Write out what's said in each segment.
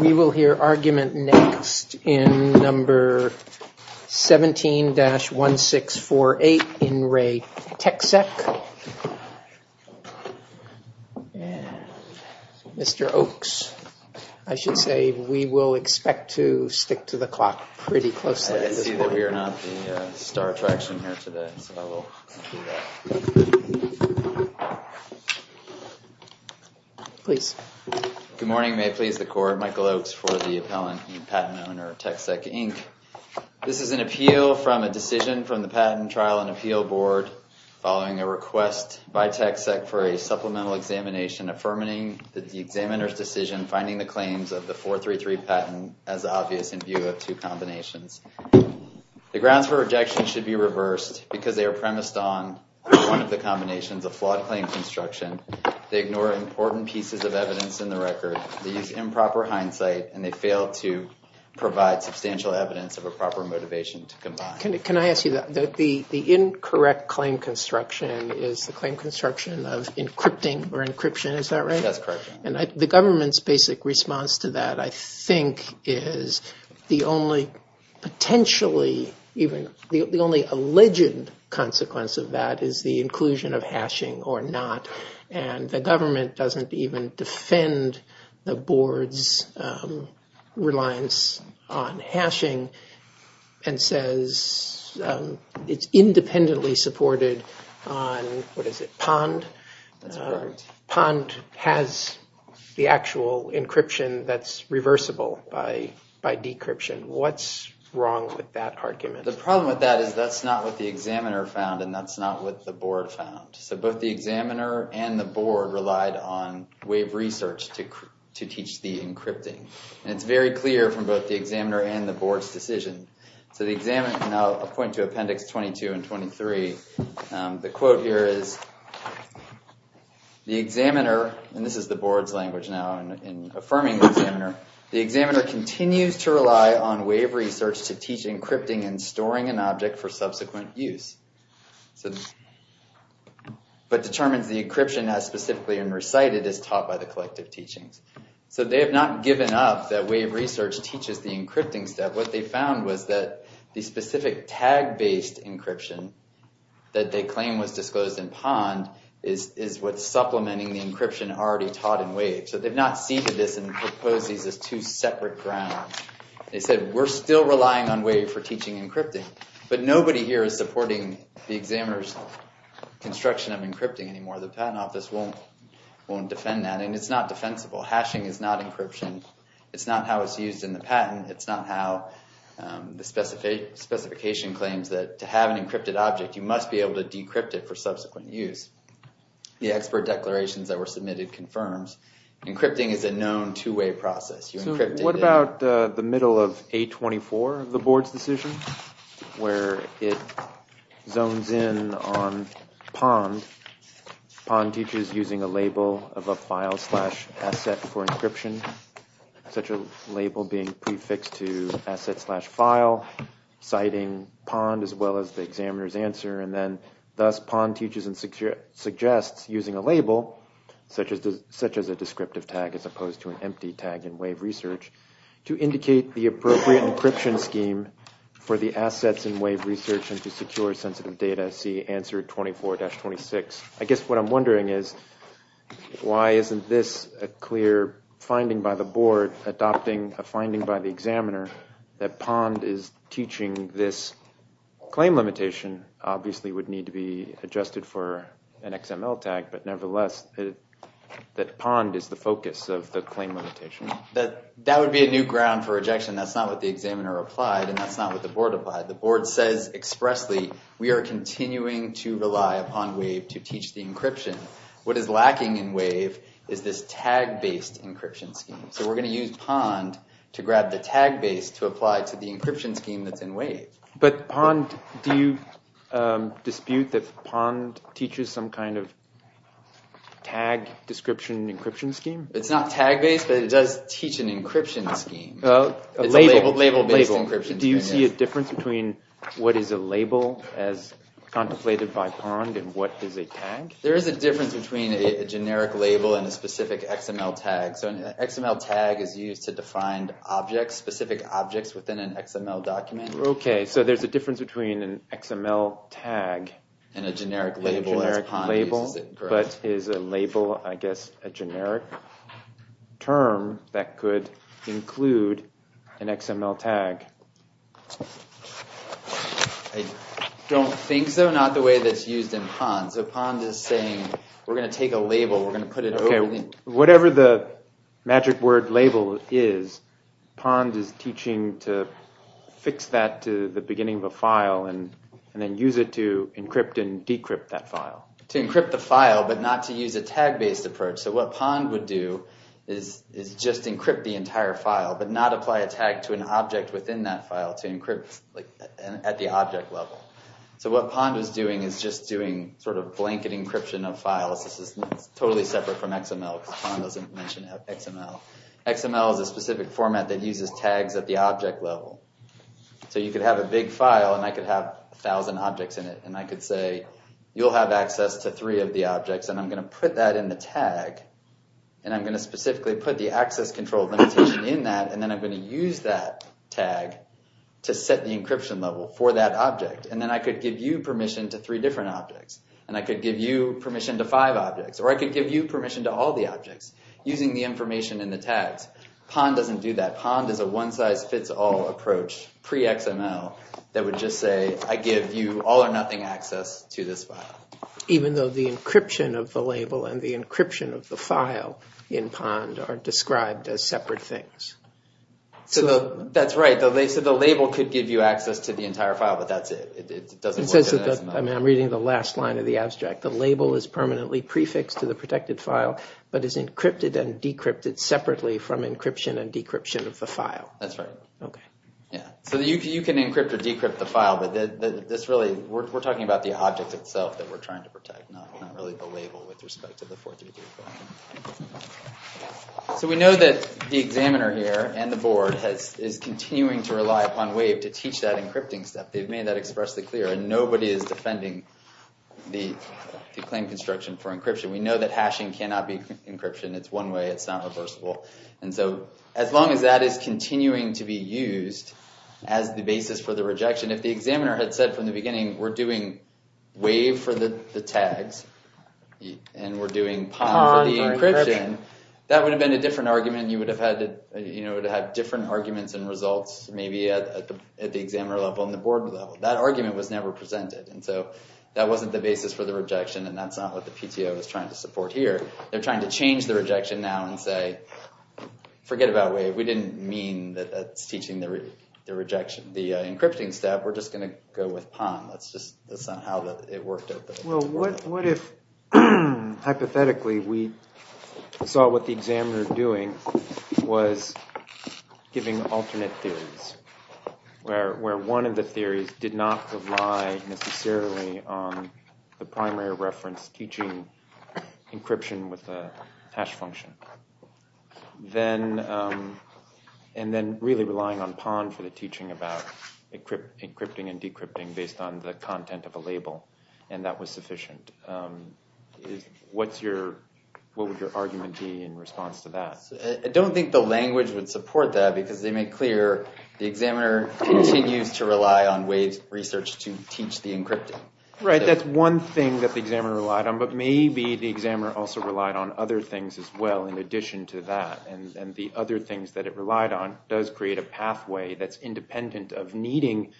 We will hear argument next in No. 17-1648 in Re TecSec. Mr. Oakes, I should say, we will expect to stick to the clock pretty closely at this point. I see that we are not the star attraction here today, so I will do that. Please. Good morning. May it please the Court. Michael Oakes for the Appellant and Patent Owner, TecSec, Inc. This is an appeal from a decision from the Patent Trial and Appeal Board, following a request by TecSec for a supplemental examination affirming the examiner's decision finding the claims of the 433 patent as obvious in view of two combinations. The grounds for rejection should be reversed because they are premised on one of the combinations of flawed claim construction. They ignore important pieces of evidence in the record. They use improper hindsight and they fail to provide substantial evidence of a proper motivation to combine. Can I ask you that? The incorrect claim construction is the claim construction of encrypting or encryption, is that right? That's correct. And the government's basic response to that, I think, is the only potentially, even the only alleged consequence of that is the inclusion of hashing or not. And the government doesn't even defend the board's reliance on hashing and says it's independently supported on, what is it, POND? That's correct. POND has the actual encryption that's reversible by decryption. What's wrong with that argument? The problem with that is that's not what the examiner found and that's not what the board found. So both the examiner and the board relied on wave research to teach the encrypting. And it's very clear from both the examiner and the board's decision. So the examiner, and I'll point to appendix 22 and 23, the quote here is, the examiner, and this is the board's language now in affirming the examiner, the examiner continues to rely on wave research to teach encrypting and storing an object for subsequent use, but determines the encryption as specifically and recited as taught by the collective teachings. So they have not given up that wave research teaches the encrypting step. What they found was that the specific tag-based encryption that they claim was disclosed in POND is what's supplementing the encryption already taught in WAVE. So they've not seated this and proposed these as two separate grounds. They said, we're still relying on WAVE for teaching encrypting, but nobody here is supporting the examiner's construction of encrypting anymore. The patent office won't defend that, and it's not defensible. Hashing is not encryption. It's not how it's used in the patent. It's not how the specification claims that to have an encrypted object, you must be able to decrypt it for subsequent use. The expert declarations that were submitted confirms encrypting is a known two-way process. So what about the middle of A24, the board's decision, where it zones in on POND? POND teaches using a label of a file slash asset for encryption, such a label being prefixed to asset slash file, citing POND as well as the examiner's answer, and then thus POND teaches and suggests using a label, such as a descriptive tag as opposed to an empty tag in WAVE research, to indicate the appropriate encryption scheme for the assets in WAVE research and to secure sensitive data, see answer 24-26. I guess what I'm wondering is why isn't this a clear finding by the board, adopting a finding by the examiner, that POND is teaching this claim limitation, obviously would need to be adjusted for an XML tag, but nevertheless that POND is the focus of the claim limitation? That would be a new ground for rejection. That's not what the examiner applied, and that's not what the board applied. The board says expressly, we are continuing to rely upon WAVE to teach the encryption. What is lacking in WAVE is this tag-based encryption scheme. So we're going to use POND to grab the tag base to apply to the encryption scheme that's in WAVE. But POND, do you dispute that POND teaches some kind of tag description encryption scheme? It's not tag-based, but it does teach an encryption scheme. It's a label-based encryption scheme. Do you see a difference between what is a label, as contemplated by POND, and what is a tag? There is a difference between a generic label and a specific XML tag. So an XML tag is used to define specific objects within an XML document. Okay, so there's a difference between an XML tag and a generic label. A generic label, but is a label, I guess, a generic term that could include an XML tag? I don't think so, not the way that's used in POND. So POND is saying, we're going to take a label, we're going to put it over the— and then use it to encrypt and decrypt that file. To encrypt the file, but not to use a tag-based approach. So what POND would do is just encrypt the entire file, but not apply a tag to an object within that file, to encrypt at the object level. So what POND is doing is just doing sort of blanket encryption of files. This is totally separate from XML, because POND doesn't mention XML. XML is a specific format that uses tags at the object level. So you could have a big file, and I could have a thousand objects in it, and I could say, you'll have access to three of the objects, and I'm going to put that in the tag, and I'm going to specifically put the access control limitation in that, and then I'm going to use that tag to set the encryption level for that object. And then I could give you permission to three different objects, and I could give you permission to five objects, or I could give you permission to all the objects, using the information in the tags. POND doesn't do that. POND is a one-size-fits-all approach, pre-XML, that would just say, I give you all or nothing access to this file. Even though the encryption of the label and the encryption of the file in POND are described as separate things. That's right. So the label could give you access to the entire file, but that's it. It doesn't work in XML. I'm reading the last line of the abstract. The label is permanently prefixed to the protected file, but is encrypted and decrypted separately from encryption and decryption of the file. That's right. Okay. Yeah. So you can encrypt or decrypt the file, but this really, we're talking about the object itself that we're trying to protect, not really the label with respect to the 433 file. So we know that the examiner here, and the board, is continuing to rely upon WAVE to teach that encrypting stuff. They've made that expressly clear, and nobody is defending the claim construction for encryption. We know that hashing cannot be encryption. It's one way. It's not reversible. And so as long as that is continuing to be used as the basis for the rejection, if the examiner had said from the beginning, we're doing WAVE for the tags, and we're doing POND for the encryption, that would have been a different argument. You would have had different arguments and results, maybe at the examiner level and the board level. That argument was never presented. And so that wasn't the basis for the rejection, and that's not what the PTO is trying to support here. They're trying to change the rejection now and say, forget about WAVE. We didn't mean that that's teaching the encryption step. We're just going to go with POND. That's not how it worked out. Well, what if hypothetically we saw what the examiner was doing was giving alternate theories, where one of the theories did not rely necessarily on the primary reference teaching encryption with a hash function, and then really relying on POND for the teaching about encrypting and decrypting based on the content of a label, and that was sufficient. What would your argument be in response to that? I don't think the language would support that, because they make clear the examiner continues to rely on WAVE's research to teach the encrypting. Right, that's one thing that the examiner relied on, but maybe the examiner also relied on other things as well in addition to that, and the other things that it relied on does create a pathway that's independent of needing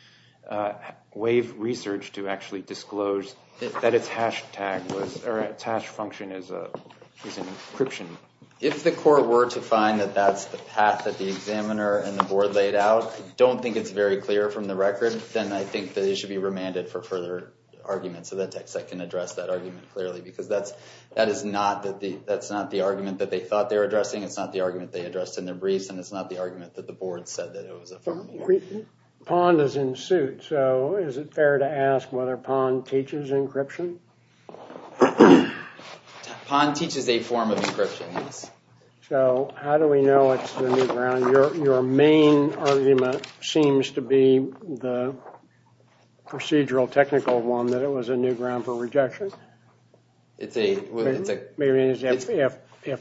WAVE research to actually disclose that its hash function is encryption. If the court were to find that that's the path that the examiner and the board laid out, I don't think it's very clear from the record. Then I think that it should be remanded for further argument so that TechSec can address that argument clearly, because that is not the argument that they thought they were addressing, it's not the argument they addressed in their briefs, and it's not the argument that the board said that it was a form of encryption. POND is in suit, so is it fair to ask whether POND teaches encryption? POND teaches a form of encryption, yes. So how do we know it's the new ground? Your main argument seems to be the procedural technical one, that it was a new ground for rejection. If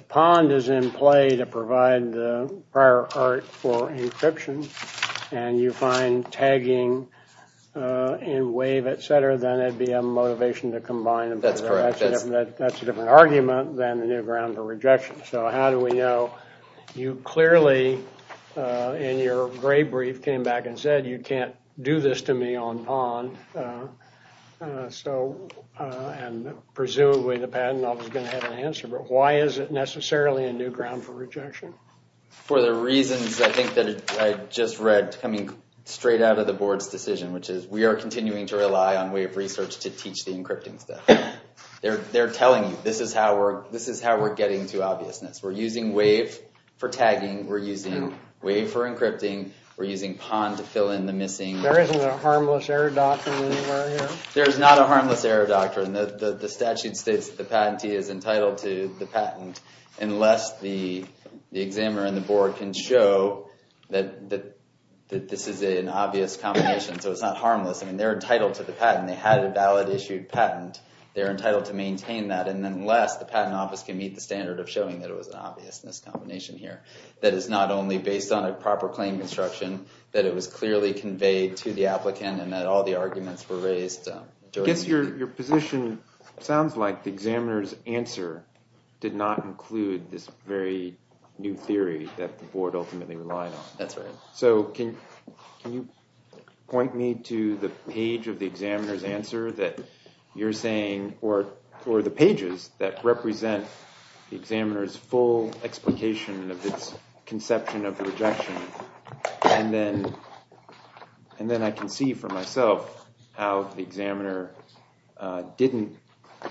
POND is in play to provide the prior art for encryption and you find tagging in WAVE, et cetera, then it would be a motivation to combine them together. That's correct. That's a different argument than a new ground for rejection. So how do we know? You clearly, in your gray brief, came back and said, you can't do this to me on POND, and presumably the patent office is going to have an answer, but why is it necessarily a new ground for rejection? For the reasons I think that I just read coming straight out of the board's decision, which is we are continuing to rely on WAVE Research to teach the encrypting stuff. They're telling you, this is how we're getting to obviousness. We're using WAVE for tagging. We're using WAVE for encrypting. We're using POND to fill in the missing. There isn't a harmless error doctrine anywhere here? There's not a harmless error doctrine. The statute states that the patentee is entitled to the patent unless the examiner and the board can show that this is an obvious combination, so it's not harmless. They're entitled to the patent. When they had a valid issued patent, they're entitled to maintain that, and unless the patent office can meet the standard of showing that it was an obviousness combination here that is not only based on a proper claim construction, that it was clearly conveyed to the applicant and that all the arguments were raised. I guess your position sounds like the examiner's answer did not include this very new theory that the board ultimately relied on. That's right. So can you point me to the page of the examiner's answer that you're saying, or the pages that represent the examiner's full explication of this conception of rejection, and then I can see for myself how the examiner didn't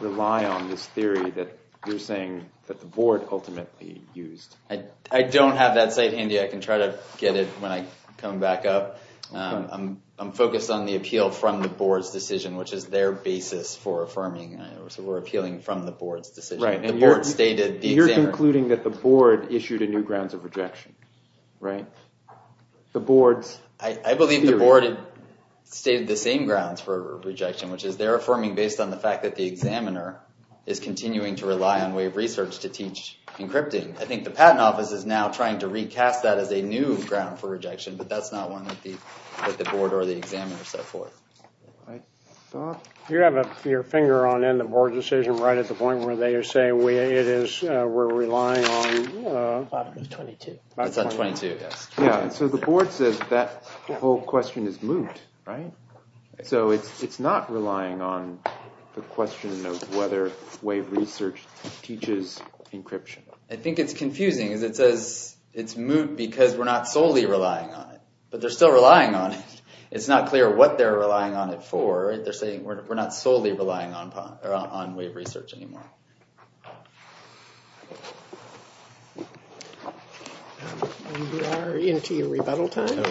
rely on this theory that you're saying that the board ultimately used. I don't have that site handy. I can try to get it when I come back up. I'm focused on the appeal from the board's decision, which is their basis for affirming. So we're appealing from the board's decision. Right. And you're concluding that the board issued a new grounds of rejection, right? The board's theory. I believe the board stated the same grounds for rejection, which is they're affirming based on the fact that the examiner is continuing to rely on wave research to teach encrypting. I think the patent office is now trying to recast that as a new ground for rejection, but that's not one that the board or the examiner set forth. You have your finger on the board's decision right at the point where they say we're relying on 22. It's on 22, yes. So the board says that whole question is moot, right? So it's not relying on the question of whether wave research teaches encryption. I think it's confusing. It says it's moot because we're not solely relying on it. But they're still relying on it. It's not clear what they're relying on it for. They're saying we're not solely relying on wave research anymore. We are into your rebuttal time.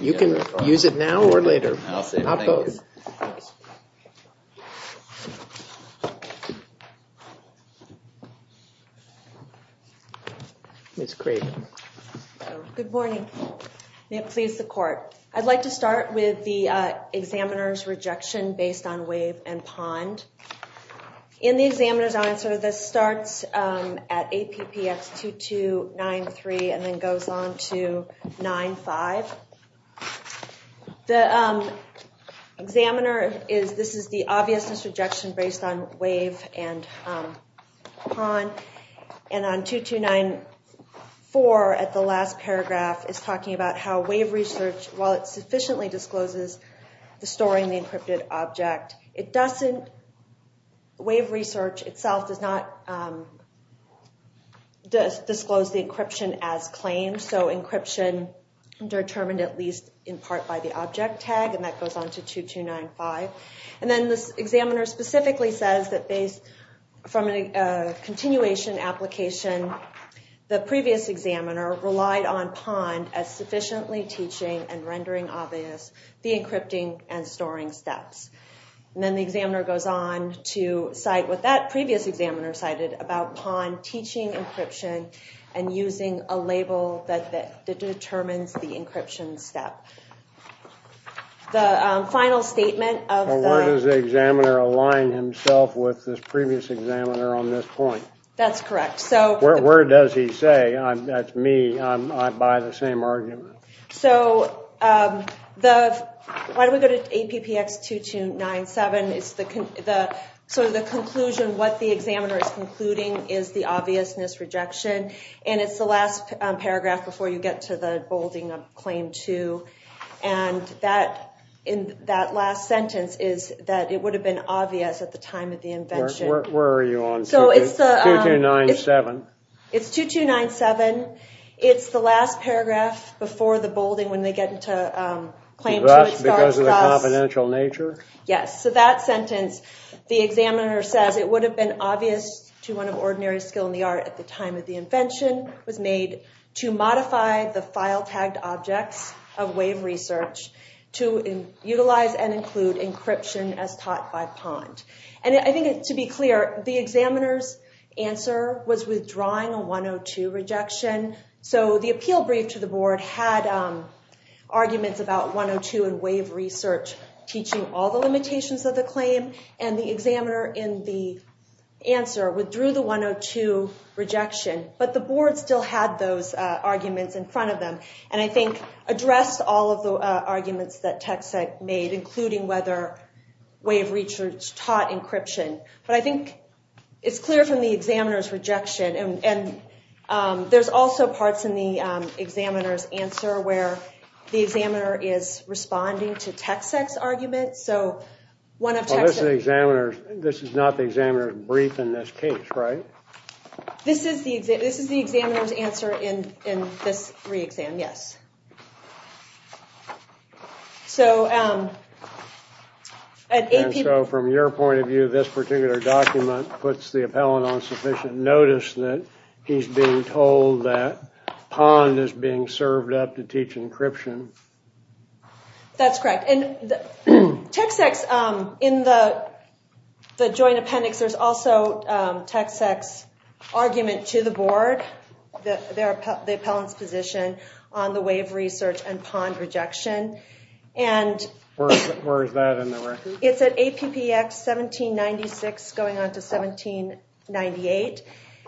You can use it now or later. Good morning. May it please the court. I'd like to start with the examiner's rejection based on wave and POND. In the examiner's answer, this starts at APPX 2293 and then goes on to 95. The examiner is, this is the obviousness rejection based on wave and POND. And on 2294 at the last paragraph is talking about how wave research, while it sufficiently discloses the story and the encrypted object, it doesn't, wave research itself does not disclose the encryption as claimed. So encryption determined at least in part by the object tag. And that goes on to 2295. And then the examiner specifically says that from a continuation application, the previous examiner relied on POND as sufficiently teaching and rendering obvious the encrypting and storing steps. And then the examiner goes on to cite what that previous examiner cited about POND teaching encryption and using a label that determines the encryption step. The final statement of the- Where does the examiner align himself with this previous examiner on this point? That's correct. Where does he say, that's me, I buy the same argument. So the, why don't we go to APPX 2297. It's the, sort of the conclusion, what the examiner is concluding is the obviousness rejection. And it's the last paragraph before you get to the bolding of claim two. And that, in that last sentence is that it would have been obvious at the time of the invention. Where are you on 2297? It's 2297. It's the last paragraph before the bolding when they get into claim two. Because of the confidential nature? Yes. So that sentence, the examiner says it would have been obvious to one of ordinary skill in the art at the time of the invention was made to modify the file tagged objects of wave research to utilize and include encryption as taught by POND. And I think to be clear, the examiner's answer was withdrawing a 102 rejection. So the appeal brief to the board had arguments about 102 and wave research, teaching all the limitations of the claim. And the examiner in the answer withdrew the 102 rejection. But the board still had those arguments in front of them. And I think addressed all of the arguments that TechSec made, including whether wave research taught encryption. But I think it's clear from the examiner's rejection. And there's also parts in the examiner's answer where the examiner is responding to TechSec's argument. So one of TechSec's- This is not the examiner's brief in this case, right? This is the examiner's answer in this re-exam, yes. So from your point of view, this particular document puts the appellant on sufficient notice that he's being told that POND is being served up to teach encryption. That's correct. TechSec's- In the joint appendix, there's also TechSec's argument to the board, the appellant's position on the wave research and POND rejection. Where is that in the record? It's at APPX 1796 going on to 1798.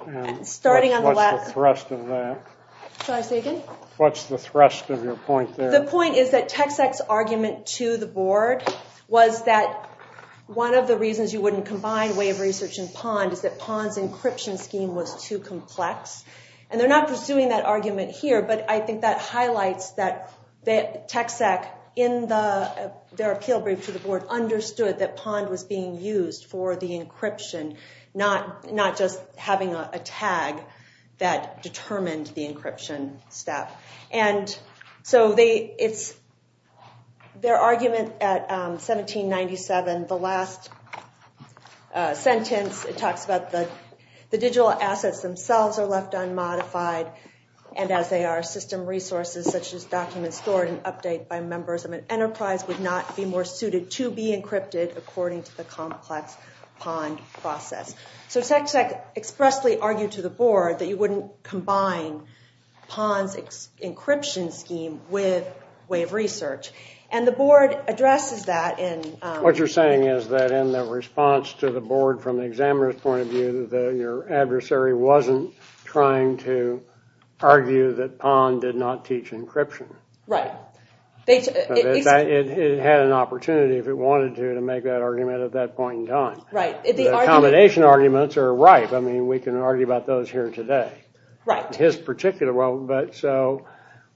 What's the thrust of that? Shall I say again? What's the thrust of your point there? The point is that TechSec's argument to the board was that one of the reasons you wouldn't combine wave research and POND is that POND's encryption scheme was too complex. And they're not pursuing that argument here. But I think that highlights that TechSec, in their appeal brief to the board, understood that POND was being used for the encryption, not just having a tag that determined the encryption step. And so their argument at 1797, the last sentence, it talks about the digital assets themselves are left unmodified, and as they are, system resources such as documents stored and updated by members of an enterprise would not be more suited to be encrypted according to the complex POND process. So TechSec expressly argued to the board that you wouldn't combine POND's encryption scheme with wave research. And the board addresses that in— What you're saying is that in the response to the board from the examiner's point of view, that your adversary wasn't trying to argue that POND did not teach encryption. Right. It had an opportunity, if it wanted to, to make that argument at that point in time. Right. The accommodation arguments are ripe. I mean, we can argue about those here today. Right. His particular—so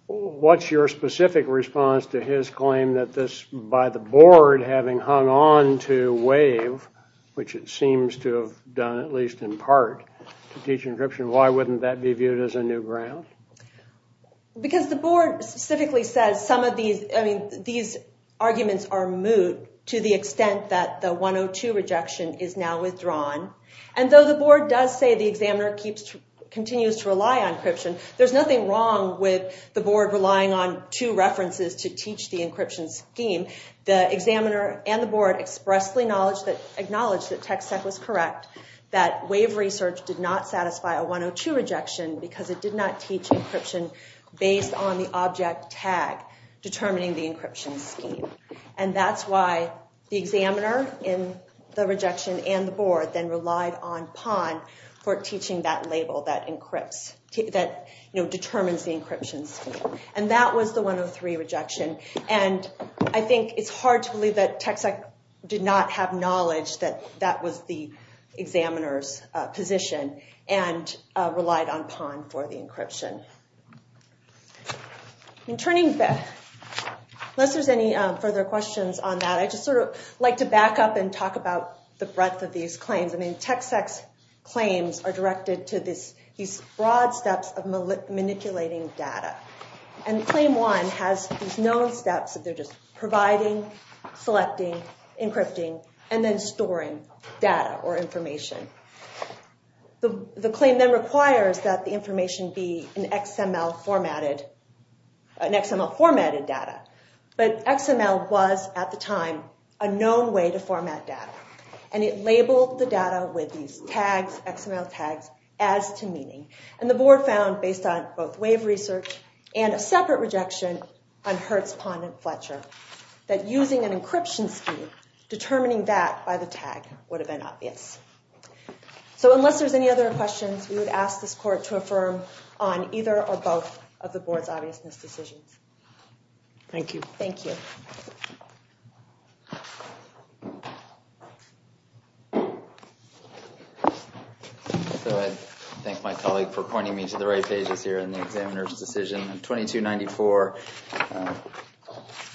what's your specific response to his claim that this, by the board having hung on to wave, which it seems to have done at least in part to teach encryption, why wouldn't that be viewed as a new ground? Because the board specifically says some of these— And though the board does say the examiner continues to rely on encryption, there's nothing wrong with the board relying on two references to teach the encryption scheme. The examiner and the board expressly acknowledged that TechSec was correct, that wave research did not satisfy a 102 rejection because it did not teach encryption based on the object tag determining the encryption scheme. And that's why the examiner in the rejection and the board then relied on POND for teaching that label that encrypts—that determines the encryption scheme. And that was the 103 rejection. And I think it's hard to believe that TechSec did not have knowledge that that was the examiner's position In turning—unless there's any further questions on that, I just sort of like to back up and talk about the breadth of these claims. I mean, TechSec's claims are directed to these broad steps of manipulating data. And Claim 1 has these known steps that they're just providing, selecting, encrypting, and then storing data or information. The claim then requires that the information be an XML formatted—an XML formatted data. But XML was, at the time, a known way to format data. And it labeled the data with these tags—XML tags—as to meaning. And the board found, based on both wave research and a separate rejection on Hertz, POND, and Fletcher, that using an encryption scheme, determining that by the tag, would have been obvious. So unless there's any other questions, we would ask this court to affirm on either or both of the board's obviousness decisions. Thank you. Thank you. So I thank my colleague for pointing me to the right pages here in the examiner's decision. 2294,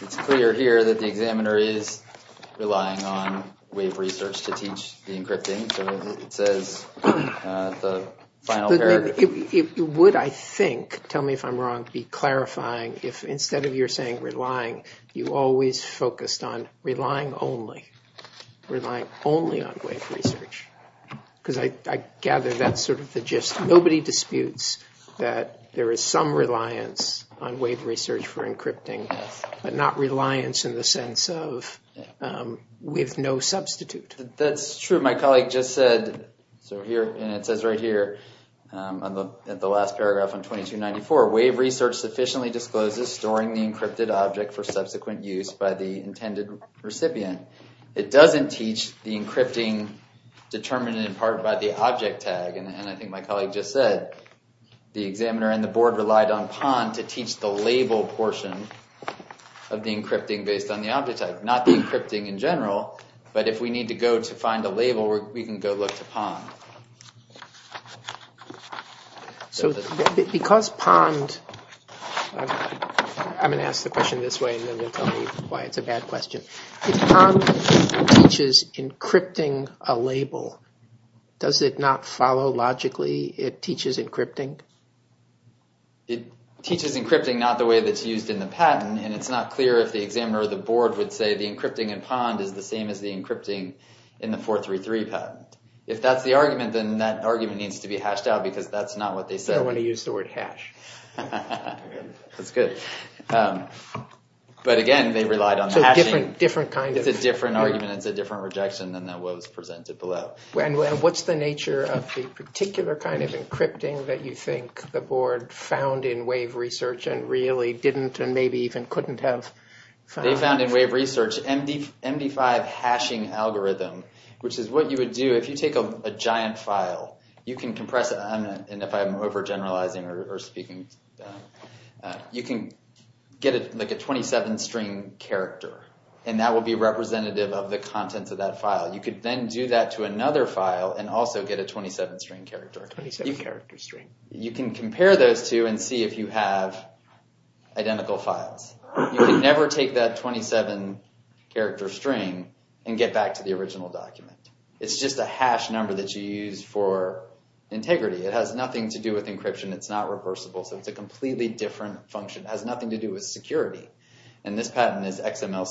it's clear here that the examiner is relying on wave research to teach the encrypting. So it says the final pair— It would, I think—tell me if I'm wrong—be clarifying if instead of your saying relying, you always focused on relying only. Relying only on wave research. Because I gather that's sort of the gist. Nobody disputes that there is some reliance on wave research for encrypting, but not reliance in the sense of with no substitute. That's true. My colleague just said, and it says right here in the last paragraph on 2294, wave research sufficiently discloses storing the encrypted object for subsequent use by the intended recipient. It doesn't teach the encrypting determined in part by the object tag. And I think my colleague just said the examiner and the board relied on PON to teach the label portion of the encrypting based on the object tag. Not the encrypting in general, but if we need to go to find a label, we can go look to PON. So because PON—I'm going to ask the question this way and then they'll tell me why it's a bad question. If PON teaches encrypting a label, does it not follow logically it teaches encrypting? It teaches encrypting not the way that's used in the patent, and it's not clear if the examiner or the board would say the encrypting in PON is the same as the encrypting in the 433 patent. If that's the argument, then that argument needs to be hashed out because that's not what they said. They don't want to use the word hash. That's good. But again, they relied on hashing. So different kind of— It's a different argument. It's a different rejection than what was presented below. And what's the nature of the particular kind of encrypting that you think the board found in Wave Research and really didn't and maybe even couldn't have found? They found in Wave Research MD5 hashing algorithm, which is what you would do if you take a giant file. You can compress it—and if I'm overgeneralizing or speaking— you can get a 27-string character, and that will be representative of the contents of that file. You could then do that to another file and also get a 27-string character. 27-character string. You can compare those two and see if you have identical files. You can never take that 27-character string and get back to the original document. It's just a hash number that you use for integrity. It has nothing to do with encryption. It's not reversible. So it's a completely different function. It has nothing to do with security. And this pattern is XML—